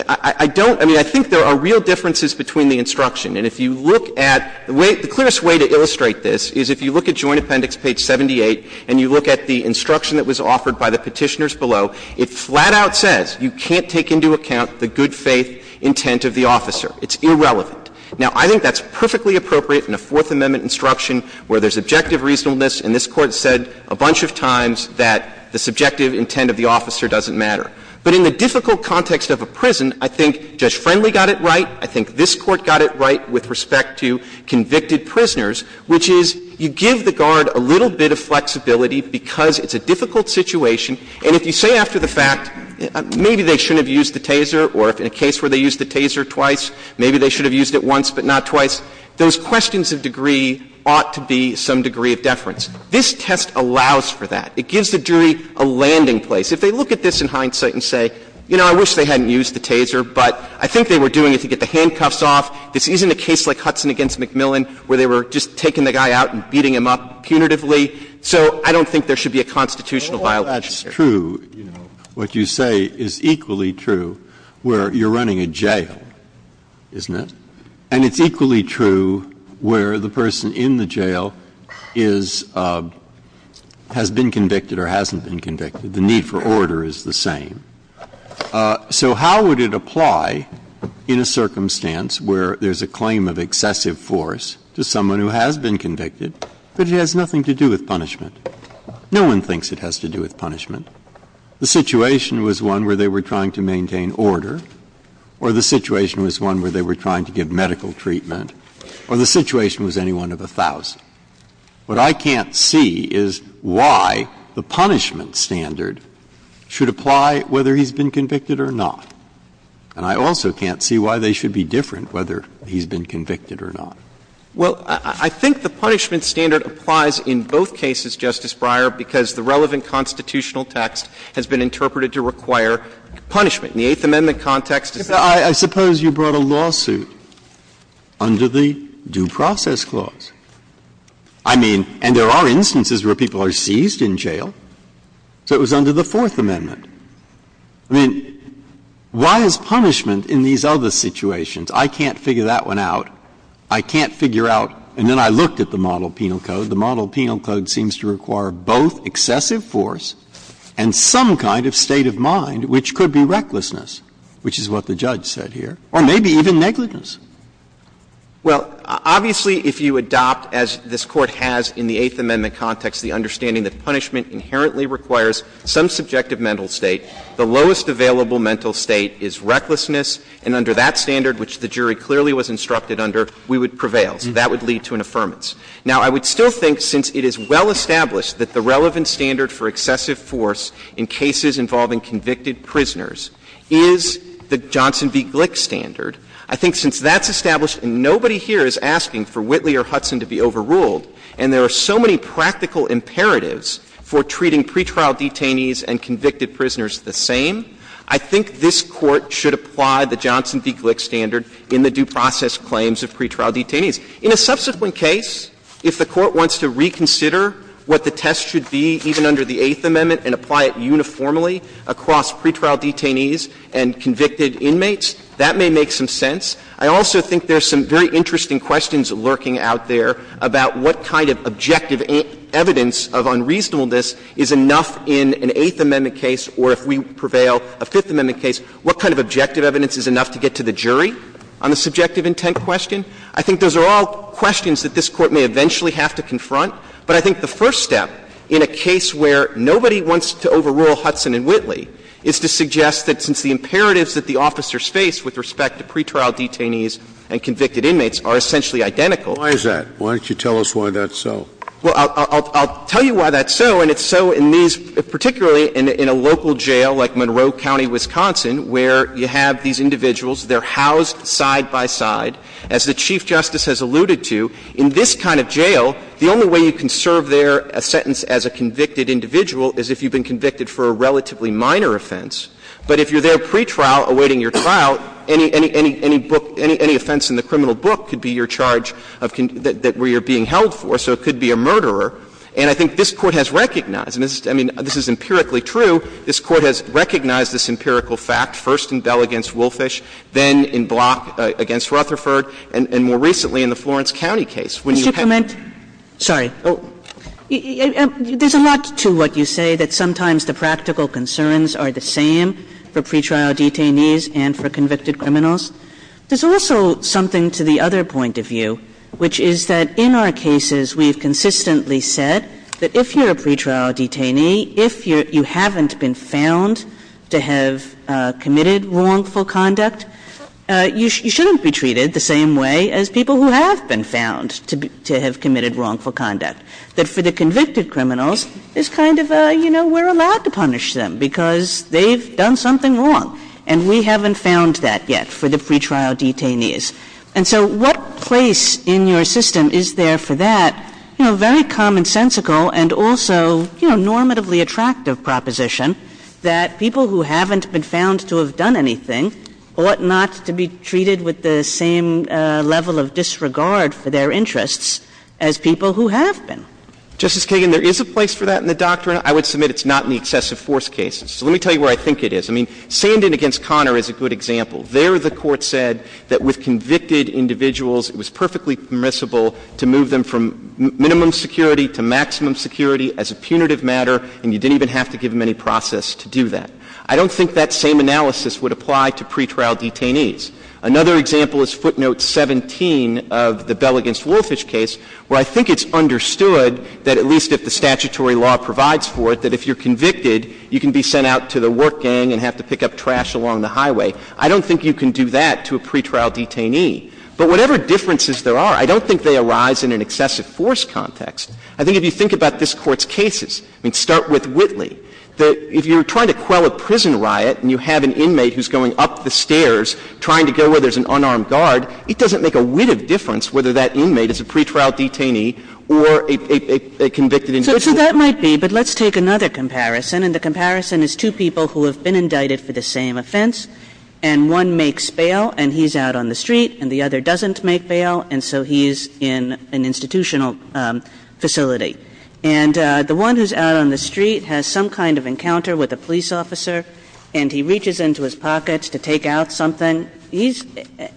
I don't – I mean, I think there are real differences between the instruction. And if you look at – the clearest way to illustrate this is if you look at Joint Appendix page 78 and you look at the instruction that was offered by the Petitioners below, it flat-out says you can't take into account the good faith intent of the officer. It's irrelevant. Now, I think that's perfectly appropriate in a Fourth Amendment instruction where there's objective reasonableness, and this Court said a bunch of times that the subjective intent of the officer doesn't matter. But in the difficult context of a prison, I think Judge Friendly got it right, I think this Court got it right with respect to convicted prisoners, which is you give the guard a little bit of flexibility because it's a difficult situation. And if you say after the fact, maybe they shouldn't have used the taser, or if in a case where they used the taser twice, maybe they should have used it once but not twice, those questions of degree ought to be some degree of deference. This test allows for that. It gives the jury a landing place. If they look at this in hindsight and say, you know, I wish they hadn't used the taser, but I think they were doing it to get the handcuffs off. This isn't a case like Hudson v. MacMillan where they were just taking the guy out and beating him up punitively. So I don't think there should be a constitutional violation here. Breyer, what you say is equally true where you're running a jail, isn't it? And it's equally true where the person in the jail is — has been convicted or hasn't been convicted. The need for order is the same. So how would it apply in a circumstance where there's a claim of excessive force to someone who has been convicted, but it has nothing to do with punishment? No one thinks it has to do with punishment. The situation was one where they were trying to maintain order, or the situation was one where they were trying to give medical treatment, or the situation was any one of a thousand. What I can't see is why the punishment standard should apply whether he's been convicted or not. And I also can't see why they should be different, whether he's been convicted or not. Well, I think the punishment standard applies in both cases, Justice Breyer, because the relevant constitutional text has been interpreted to require punishment. In the Eighth Amendment context, it's the same. I suppose you brought a lawsuit under the Due Process Clause. I mean, and there are instances where people are seized in jail. So it was under the Fourth Amendment. I mean, why is punishment in these other situations? I can't figure that one out. I can't figure out — and then I looked at the model penal code. The model penal code seems to require both excessive force and some kind of state of mind, which could be recklessness, which is what the judge said here, or maybe even negligence. Well, obviously, if you adopt, as this Court has in the Eighth Amendment context, the understanding that punishment inherently requires some subjective mental state, the lowest available mental state is recklessness, and under that standard, which the jury clearly was instructed under, we would prevail. So that would lead to an affirmance. Now, I would still think, since it is well established that the relevant standard for excessive force in cases involving convicted prisoners is the Johnson v. Glick standard, I think since that's established, and nobody here is asking for Whitley or Hudson to be overruled, and there are so many practical imperatives for treating pretrial detainees and convicted prisoners the same, I think this Court should apply the Johnson v. Glick standard in the due process claims of pretrial detainees. In a subsequent case, if the Court wants to reconsider what the test should be, even under the Eighth Amendment, and apply it uniformly across pretrial detainees and convicted inmates, that may make some sense. I also think there's some very interesting questions lurking out there about what kind of objective evidence of unreasonableness is enough in an Eighth Amendment case, or if we prevail a Fifth Amendment case, what kind of objective evidence is enough to get to the jury on the subjective intent question. I think those are all questions that this Court may eventually have to confront. But I think the first step in a case where nobody wants to overrule Hudson and Whitley is to suggest that since the imperatives that the officers face with respect to pretrial detainees and convicted inmates are essentially identical. Scalia. Why is that? Why don't you tell us why that's so? Clement. Well, I'll tell you why that's so, and it's so in these — particularly in a local jail like Monroe County, Wisconsin, where you have these individuals, they're housed side by side. As the Chief Justice has alluded to, in this kind of jail, the only way you can serve there a sentence as a convicted individual is if you've been convicted for a relatively minor offense. But if you're there pretrial awaiting your trial, any — any — any book — any offense in the criminal book could be your charge of — that — where you're being held for, so it could be a murderer. And I think this Court has recognized, and this is — I mean, this is empirically true, this Court has recognized this empirical fact, first in Bell v. Woolfish, then in Block v. Rutherford, and more recently in the Florence County case. When you have — And — sorry. There's a lot to what you say, that sometimes the practical concerns are the same for pretrial detainees and for convicted criminals. There's also something to the other point of view, which is that in our cases, we've consistently said that if you're a pretrial detainee, if you haven't been found to have committed wrongful conduct, you shouldn't be treated the same way as people who have been found to be — to have committed wrongful conduct. That for the convicted criminals, it's kind of a, you know, we're allowed to punish them because they've done something wrong. And we haven't found that yet for the pretrial detainees. And so what place in your system is there for that, you know, very commonsensical and also, you know, normatively attractive proposition that people who haven't been Justice Kagan, there is a place for that in the doctrine. I would submit it's not in the excessive force cases. So let me tell you where I think it is. I mean, Sandin v. Conner is a good example. There, the Court said that with convicted individuals, it was perfectly permissible to move them from minimum security to maximum security as a punitive matter, and you didn't even have to give them any process to do that. I don't think that same analysis would apply to pretrial detainees. Another example is footnote 17 of the Bell v. Wolfish case, where I think it's understood that at least if the statutory law provides for it, that if you're convicted, you can be sent out to the work gang and have to pick up trash along the highway. I don't think you can do that to a pretrial detainee. But whatever differences there are, I don't think they arise in an excessive force context. I think if you think about this Court's cases, I mean, start with Whitley, that if you're trying to quell a prison riot and you have an inmate who's going up the stairs trying to go where there's an unarmed guard, it doesn't make a width of difference whether that inmate is a pretrial detainee or a convicted individual. Kagan. So that might be, but let's take another comparison, and the comparison is two people who have been indicted for the same offense, and one makes bail and he's out on the street, and the other doesn't make bail, and so he's in an institutional facility. And the one who's out on the street has some kind of encounter with a police officer, and he reaches into his pockets to take out something,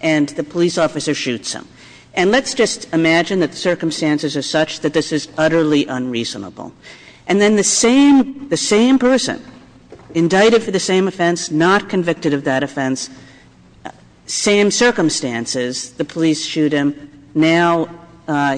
and the police officer shoots him. And let's just imagine that the circumstances are such that this is utterly unreasonable. And then the same person, indicted for the same offense, not convicted of that offense, same circumstances, the police shoot him. Now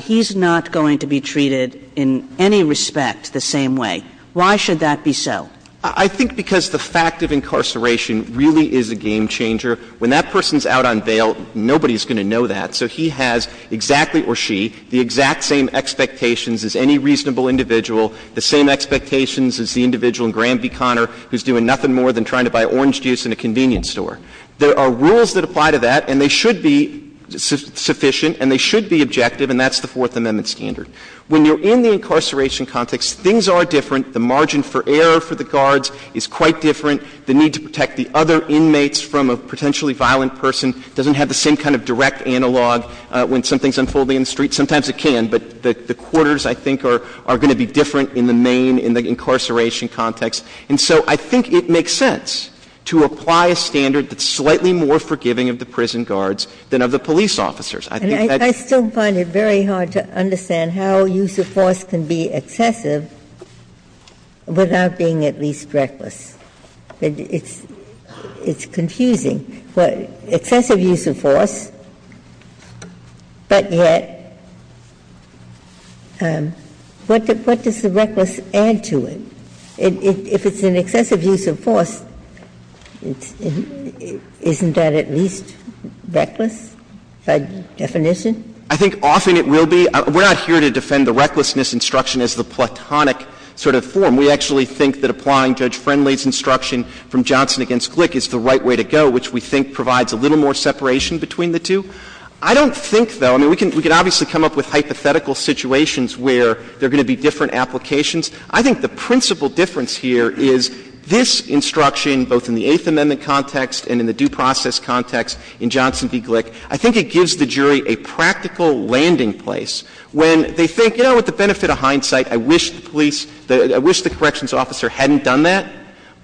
he's not going to be treated in any respect the same way. Why should that be so? I think because the fact of incarceration really is a game-changer. When that person's out on bail, nobody's going to know that. So he has exactly, or she, the exact same expectations as any reasonable individual, the same expectations as the individual in Graham v. Conner, who's doing nothing more than trying to buy orange juice in a convenience store. There are rules that apply to that, and they should be sufficient, and they should be objective, and that's the Fourth Amendment standard. When you're in the incarceration context, things are different. The margin for error for the guards is quite different. The need to protect the other inmates from a potentially violent person doesn't have the same kind of direct analog when something's unfolding in the street. Sometimes it can, but the quarters, I think, are going to be different in the main, in the incarceration context. And so I think it makes sense to apply a standard that's slightly more forgiving of the prison guards than of the police officers. I think that's the way it should be. Ginsburg. It's confusing, excessive use of force, but yet, what does the reckless add to it? If it's an excessive use of force, isn't that at least reckless by definition? I think often it will be. We're not here to defend the recklessness instruction as the platonic sort of form. We actually think that applying Judge Friendly's instruction from Johnson v. Glick is the right way to go, which we think provides a little more separation between the two. I don't think, though, I mean, we can obviously come up with hypothetical situations where there are going to be different applications. I think the principal difference here is this instruction, both in the Eighth Amendment context and in the due process context in Johnson v. Glick, I think it gives the jury a practical landing place when they think, you know, with the benefit of hindsight, I wish the police, I wish the corrections officer hadn't done that.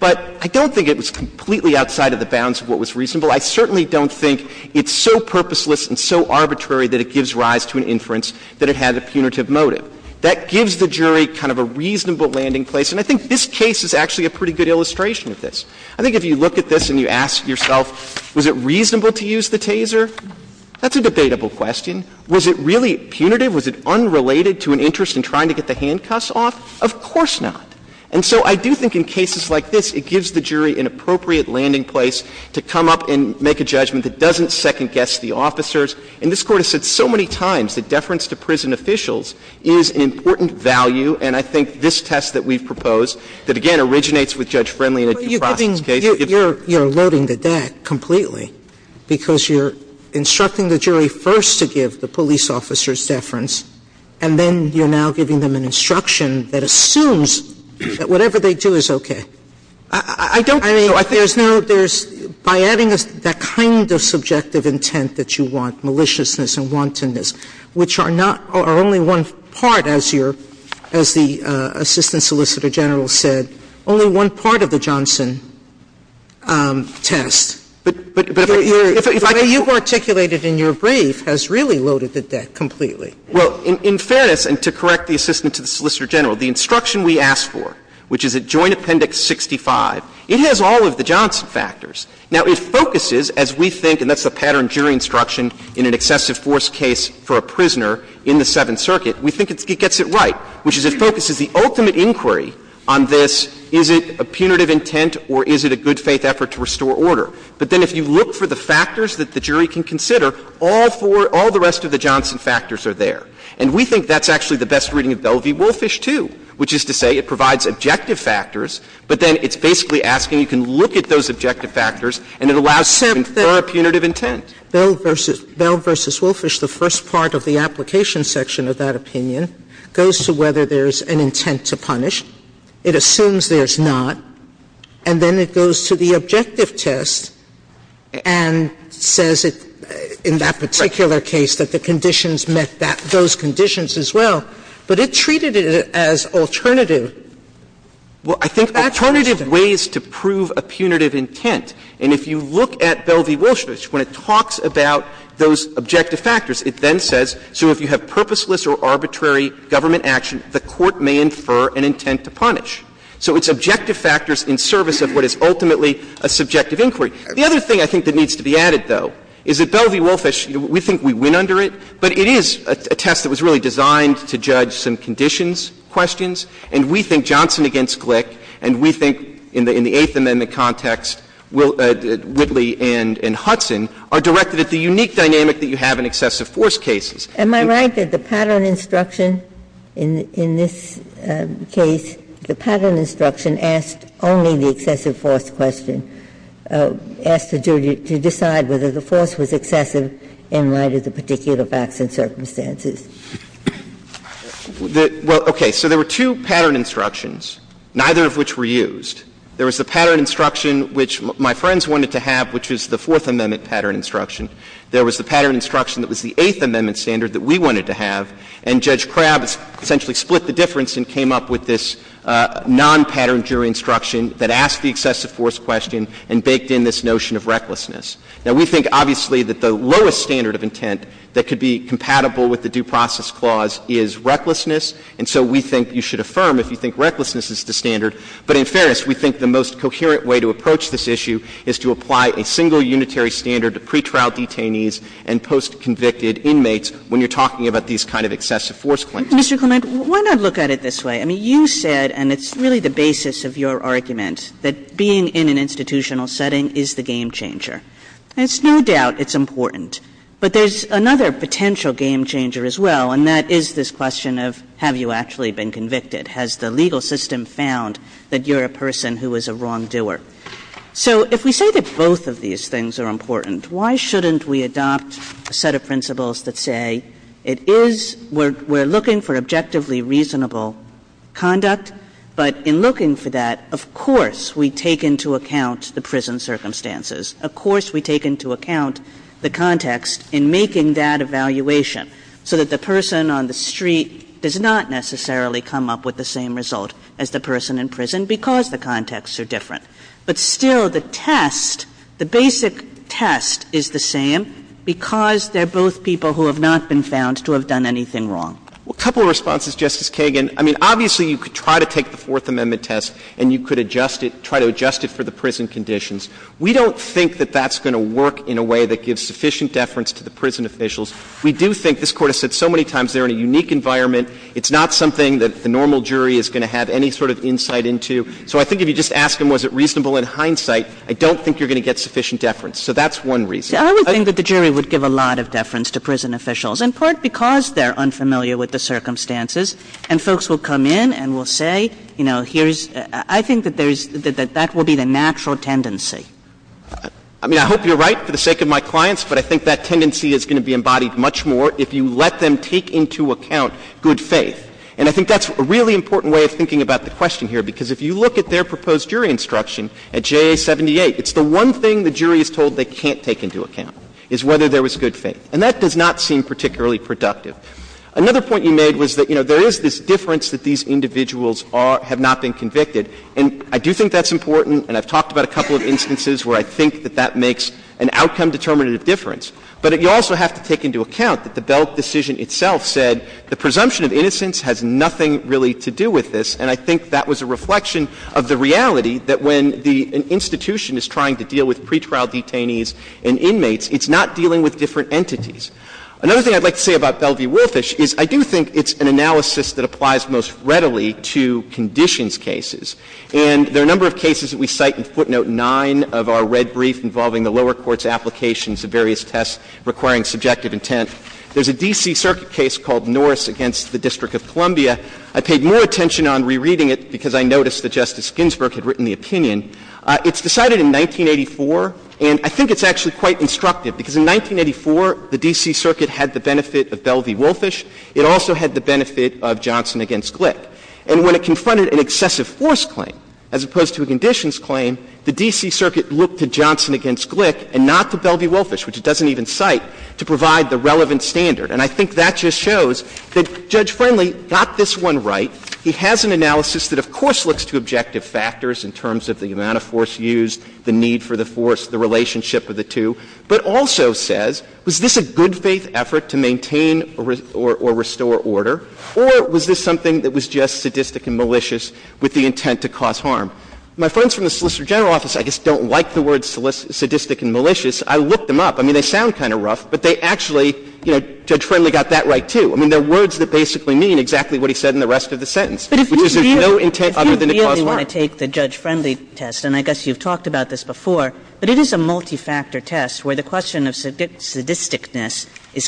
But I don't think it was completely outside of the bounds of what was reasonable. I certainly don't think it's so purposeless and so arbitrary that it gives rise to an inference that it had a punitive motive. That gives the jury kind of a reasonable landing place, and I think this case is actually a pretty good illustration of this. I think if you look at this and you ask yourself, was it reasonable to use the taser? That's a debatable question. Was it really punitive? Was it unrelated to an interest in trying to get the handcuffs off? Of course not. And so I do think in cases like this, it gives the jury an appropriate landing place to come up and make a judgment that doesn't second-guess the officers. And this Court has said so many times that deference to prison officials is an important value, and I think this test that we've proposed that, again, originates with Judge Friendly in a due process case. Sotomayor, you're loading the deck completely, because you're instructing the jury first to give the police officer's deference, and then you're now giving them an instruction that assumes that whatever they do is okay. I don't think there's no – there's – by adding that kind of subjective intent that you want, maliciousness and wantonness, which are not – are only one part, as you're – as the Assistant Solicitor General said, only one part of the Johnson test. But if I could just say the way you've articulated in your brief has really loaded the deck completely. Well, in fairness, and to correct the Assistant to the Solicitor General, the instruction we asked for, which is at Joint Appendix 65, it has all of the Johnson factors. Now, it focuses, as we think, and that's the pattern jury instruction in an excessive force case for a prisoner in the Seventh Circuit, we think it gets it right, which is it focuses the ultimate inquiry on this, is it a punitive intent or is it a good faith effort to restore order. But then if you look for the factors that the jury can consider, all four – all the rest of the Johnson factors are there. And we think that's actually the best reading of Bell v. Wolfish, too, which is to say it provides objective factors, but then it's basically asking you can look at those objective factors, and it allows for a punitive intent. Bell v. Wolfish, the first part of the application section of that opinion, goes to whether there's an intent to punish, it assumes there's not, and then it goes to the objective test and says it, in that particular case, that the conditions met that – those conditions as well. But it treated it as alternative factors, though. Well, I think alternative ways to prove a punitive intent, and if you look at Bell v. Wolfish, when it talks about those objective factors, it then says, so if you have purposeless or arbitrary government action, the court may infer an intent to punish. So it's objective factors in service of what is ultimately a subjective inquiry. The other thing I think that needs to be added, though, is that Bell v. Wolfish – we think we win under it, but it is a test that was really designed to judge some conditions, questions. And we think Johnson against Glick, and we think in the – in the Eighth Amendment context, Whitley and Hudson, are directed at the unique dynamic that you have in excessive force cases. Am I right that the pattern instruction in this case, the pattern instruction asked only the excessive force question, asked the jury to decide whether the force was excessive in light of the particular facts and circumstances? Well, okay. So there were two pattern instructions, neither of which were used. There was the pattern instruction which my friends wanted to have, which was the Fourth Amendment pattern instruction. There was the pattern instruction that was the Eighth Amendment standard that we wanted to have, and Judge Krabs essentially split the difference and came up with this non-pattern jury instruction that asked the excessive force question and baked in this notion of recklessness. Now, we think, obviously, that the lowest standard of intent that could be compatible with the Due Process Clause is recklessness, and so we think you should affirm if you think recklessness is the standard. But in fairness, we think the most coherent way to approach this issue is to apply a single unitary standard to pretrial detainees and post-convicted inmates when you're talking about these kind of excessive force claims. Kagan. Kagan. Mr. Clement, why not look at it this way? I mean, you said, and it's really the basis of your argument, that being in an institutional setting is the game-changer. It's no doubt it's important, but there's another potential game-changer as well, and that is this question of have you actually been convicted? Has the legal system found that you're a person who is a wrongdoer? So if we say that both of these things are important, why shouldn't we adopt a set of principles that say it is we're looking for objectively reasonable conduct, but in looking for that, of course, we take into account the prison circumstances. Of course, we take into account the context in making that evaluation, so that the person in prison is not the same result as the person in prison because the contexts are different. But still, the test, the basic test is the same because they're both people who have not been found to have done anything wrong. Well, a couple of responses, Justice Kagan. I mean, obviously, you could try to take the Fourth Amendment test and you could adjust it, try to adjust it for the prison conditions. We don't think that that's going to work in a way that gives sufficient deference to the prison officials. We do think, this Court has said so many times, they're in a unique environment. It's not something that the normal jury is going to have any sort of insight into. So I think if you just ask them was it reasonable in hindsight, I don't think you're going to get sufficient deference. So that's one reason. I would think that the jury would give a lot of deference to prison officials, in part because they're unfamiliar with the circumstances, and folks will come in and will say, you know, here's — I think that there's — that that will be the natural tendency. I mean, I hope you're right for the sake of my clients, but I think that tendency is going to be embodied much more if you let them take into account good faith. And I think that's a really important way of thinking about the question here, because if you look at their proposed jury instruction at JA 78, it's the one thing the jury is told they can't take into account, is whether there was good faith. And that does not seem particularly productive. Another point you made was that, you know, there is this difference that these individuals are — have not been convicted. And I do think that's important, and I've talked about a couple of instances where I think that that makes an outcome-determinative difference. But you also have to take into account that the Bell decision itself said the presumption of innocence has nothing really to do with this, and I think that was a reflection of the reality that when the — an institution is trying to deal with pretrial detainees and inmates, it's not dealing with different entities. Another thing I'd like to say about Bellevue-Woolfish is I do think it's an analysis that applies most readily to conditions cases. And there are a number of cases that we cite in footnote 9 of our red brief involving the lower court's applications of various tests requiring subjective intent. There's a D.C. Circuit case called Norris against the District of Columbia. I paid more attention on rereading it because I noticed that Justice Ginsburg had written the opinion. It's decided in 1984, and I think it's actually quite instructive, because in 1984, the D.C. Circuit had the benefit of Bellevue-Woolfish. It also had the benefit of Johnson against Glick. And when it confronted an excessive force claim as opposed to a conditions claim, the D.C. Circuit looked to Johnson against Glick and not to Bellevue-Woolfish, which it doesn't even cite, to provide the relevant standard. And I think that just shows that Judge Friendly got this one right. He has an analysis that, of course, looks to objective factors in terms of the amount of force used, the need for the force, the relationship of the two, but also says, was this a good-faith effort to maintain or restore order, or was this something that was just sadistic and malicious with the intent to cause harm? My friends from the Solicitor General office, I guess, don't like the words sadistic and malicious. I looked them up. I mean, they sound kind of rough, but they actually, you know, Judge Friendly got that right, too. I mean, they're words that basically mean exactly what he said in the rest of the sentence, which is there's no intent other than to cause harm. Kagan. Kagan. Kagan. Kagan. Kagan. Kagan. Kagan. Kagan. Kagan. Kagan. Kagan. Kagan. Kagan. Kagan. Kagan.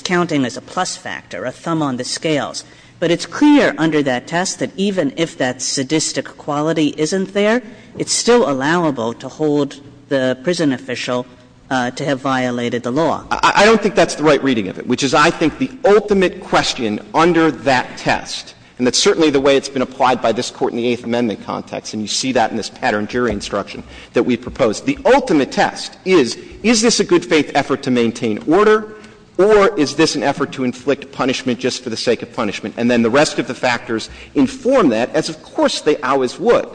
Kagan. I don't think that's the right reading of it, which is, I think, the ultimate question under that test, and that's certainly the way it's been applied by this Court in the Eighth Amendment context, and you see that in this patterned jury instruction that we've proposed. The ultimate test is, is this a good-faith effort to maintain order, or is this an effort to inflict punishment just for the sake of punishment, and then the rest of the factors inform that, as, of course, they always would.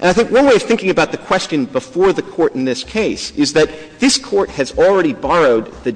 And I think one way of thinking about the question before the Court in this case is that this Court has already borrowed the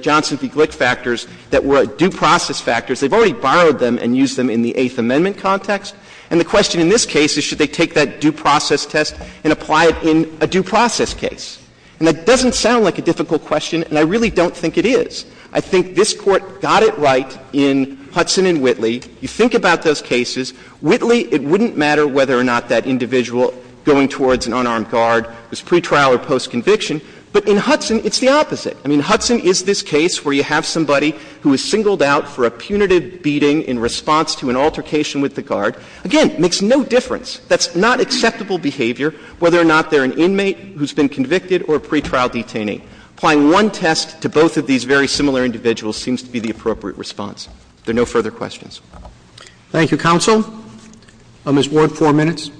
Johnson v. Glick factors that were due process factors. They've already borrowed them and used them in the Eighth Amendment context. And the question in this case is, should they take that due process test and apply it in a due process case? And that doesn't sound like a difficult question, and I really don't think it is. I think this Court got it right in Hudson and Whitley. You think about those cases. Whitley, it wouldn't matter whether or not that individual going towards an unarmed guard was pretrial or post-conviction, but in Hudson it's the opposite. I mean, Hudson is this case where you have somebody who is singled out for a punitive beating in response to an altercation with the guard. Again, it makes no difference. That's not acceptable behavior, whether or not they're an inmate who's been convicted or a pretrial detainee. Applying one test to both of these very similar individuals seems to be the appropriate response. If there are no further questions. Thank you, counsel. Ms. Ward, four minutes.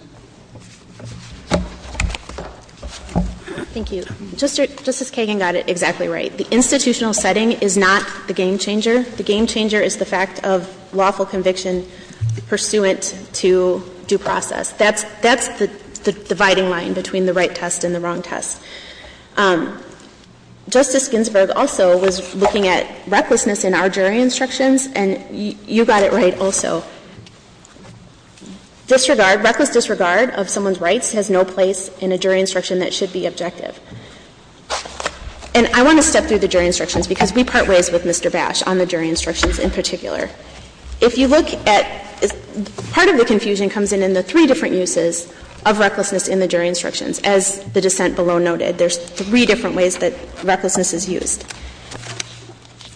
Thank you. Justice Kagan got it exactly right. The institutional setting is not the game changer. The game changer is the fact of lawful conviction pursuant to due process. That's the dividing line between the right test and the wrong test. Justice Ginsburg also was looking at recklessness in our jury instructions, and you got it right also. Disregard, reckless disregard of someone's rights has no place in a jury instruction that should be objective. And I want to step through the jury instructions because we part ways with Mr. Bash on the jury instructions in particular. If you look at the part of the confusion comes in in the three different uses of recklessness in the jury instructions. As the dissent below noted, there's three different ways that recklessness is used.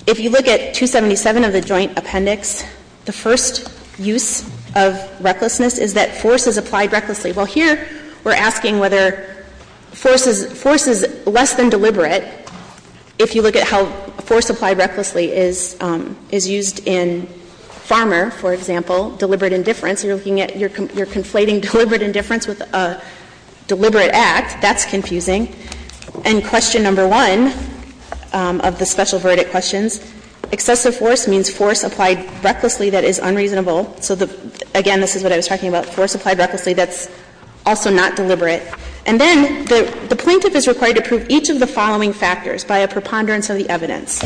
If you look at 277 of the Joint Appendix, the first use of recklessness is that force is applied recklessly. Well, here we're asking whether force is less than deliberate. If you look at how force applied recklessly is used in Farmer, for example, deliberate indifference, you're looking at you're conflating deliberate indifference with a deliberate act. That's confusing. And question number one of the special verdict questions, excessive force means force applied recklessly that is unreasonable. So again, this is what I was talking about, force applied recklessly that's also not deliberate. And then the plaintiff is required to prove each of the following factors by a preponderance of the evidence.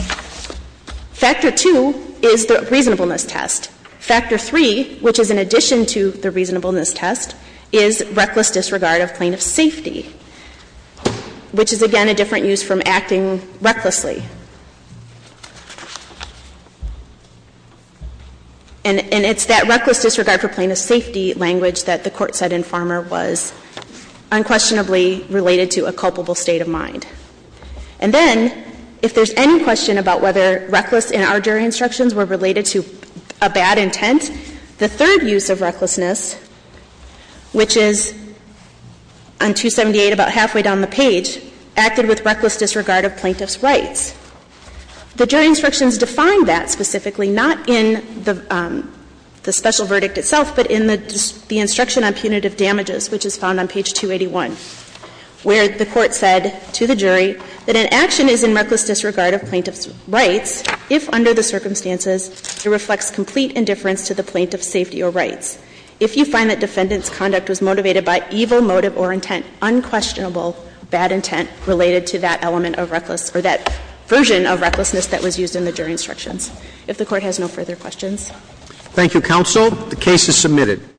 Factor two is the reasonableness test. Factor three, which is in addition to the reasonableness test, is reckless disregard of plaintiff's safety. Which is, again, a different use from acting recklessly. And it's that reckless disregard for plaintiff's safety language that the court said in Farmer was unquestionably related to a culpable state of mind. And then, if there's any question about whether reckless in our jury instructions were related to a bad intent, the third use of recklessness, which is on 277 of the Joint Appendix, 278, about halfway down the page, acted with reckless disregard of plaintiff's rights. The jury instructions define that specifically, not in the special verdict itself, but in the instruction on punitive damages, which is found on page 281, where the court said to the jury that an action is in reckless disregard of plaintiff's rights if, under the circumstances, it reflects complete indifference to the plaintiff's safety or rights. If you find that defendant's conduct was motivated by evil motive or intent, unquestionable bad intent related to that element of reckless or that version of recklessness that was used in the jury instructions. If the Court has no further questions. Roberts. Thank you, counsel. The case is submitted.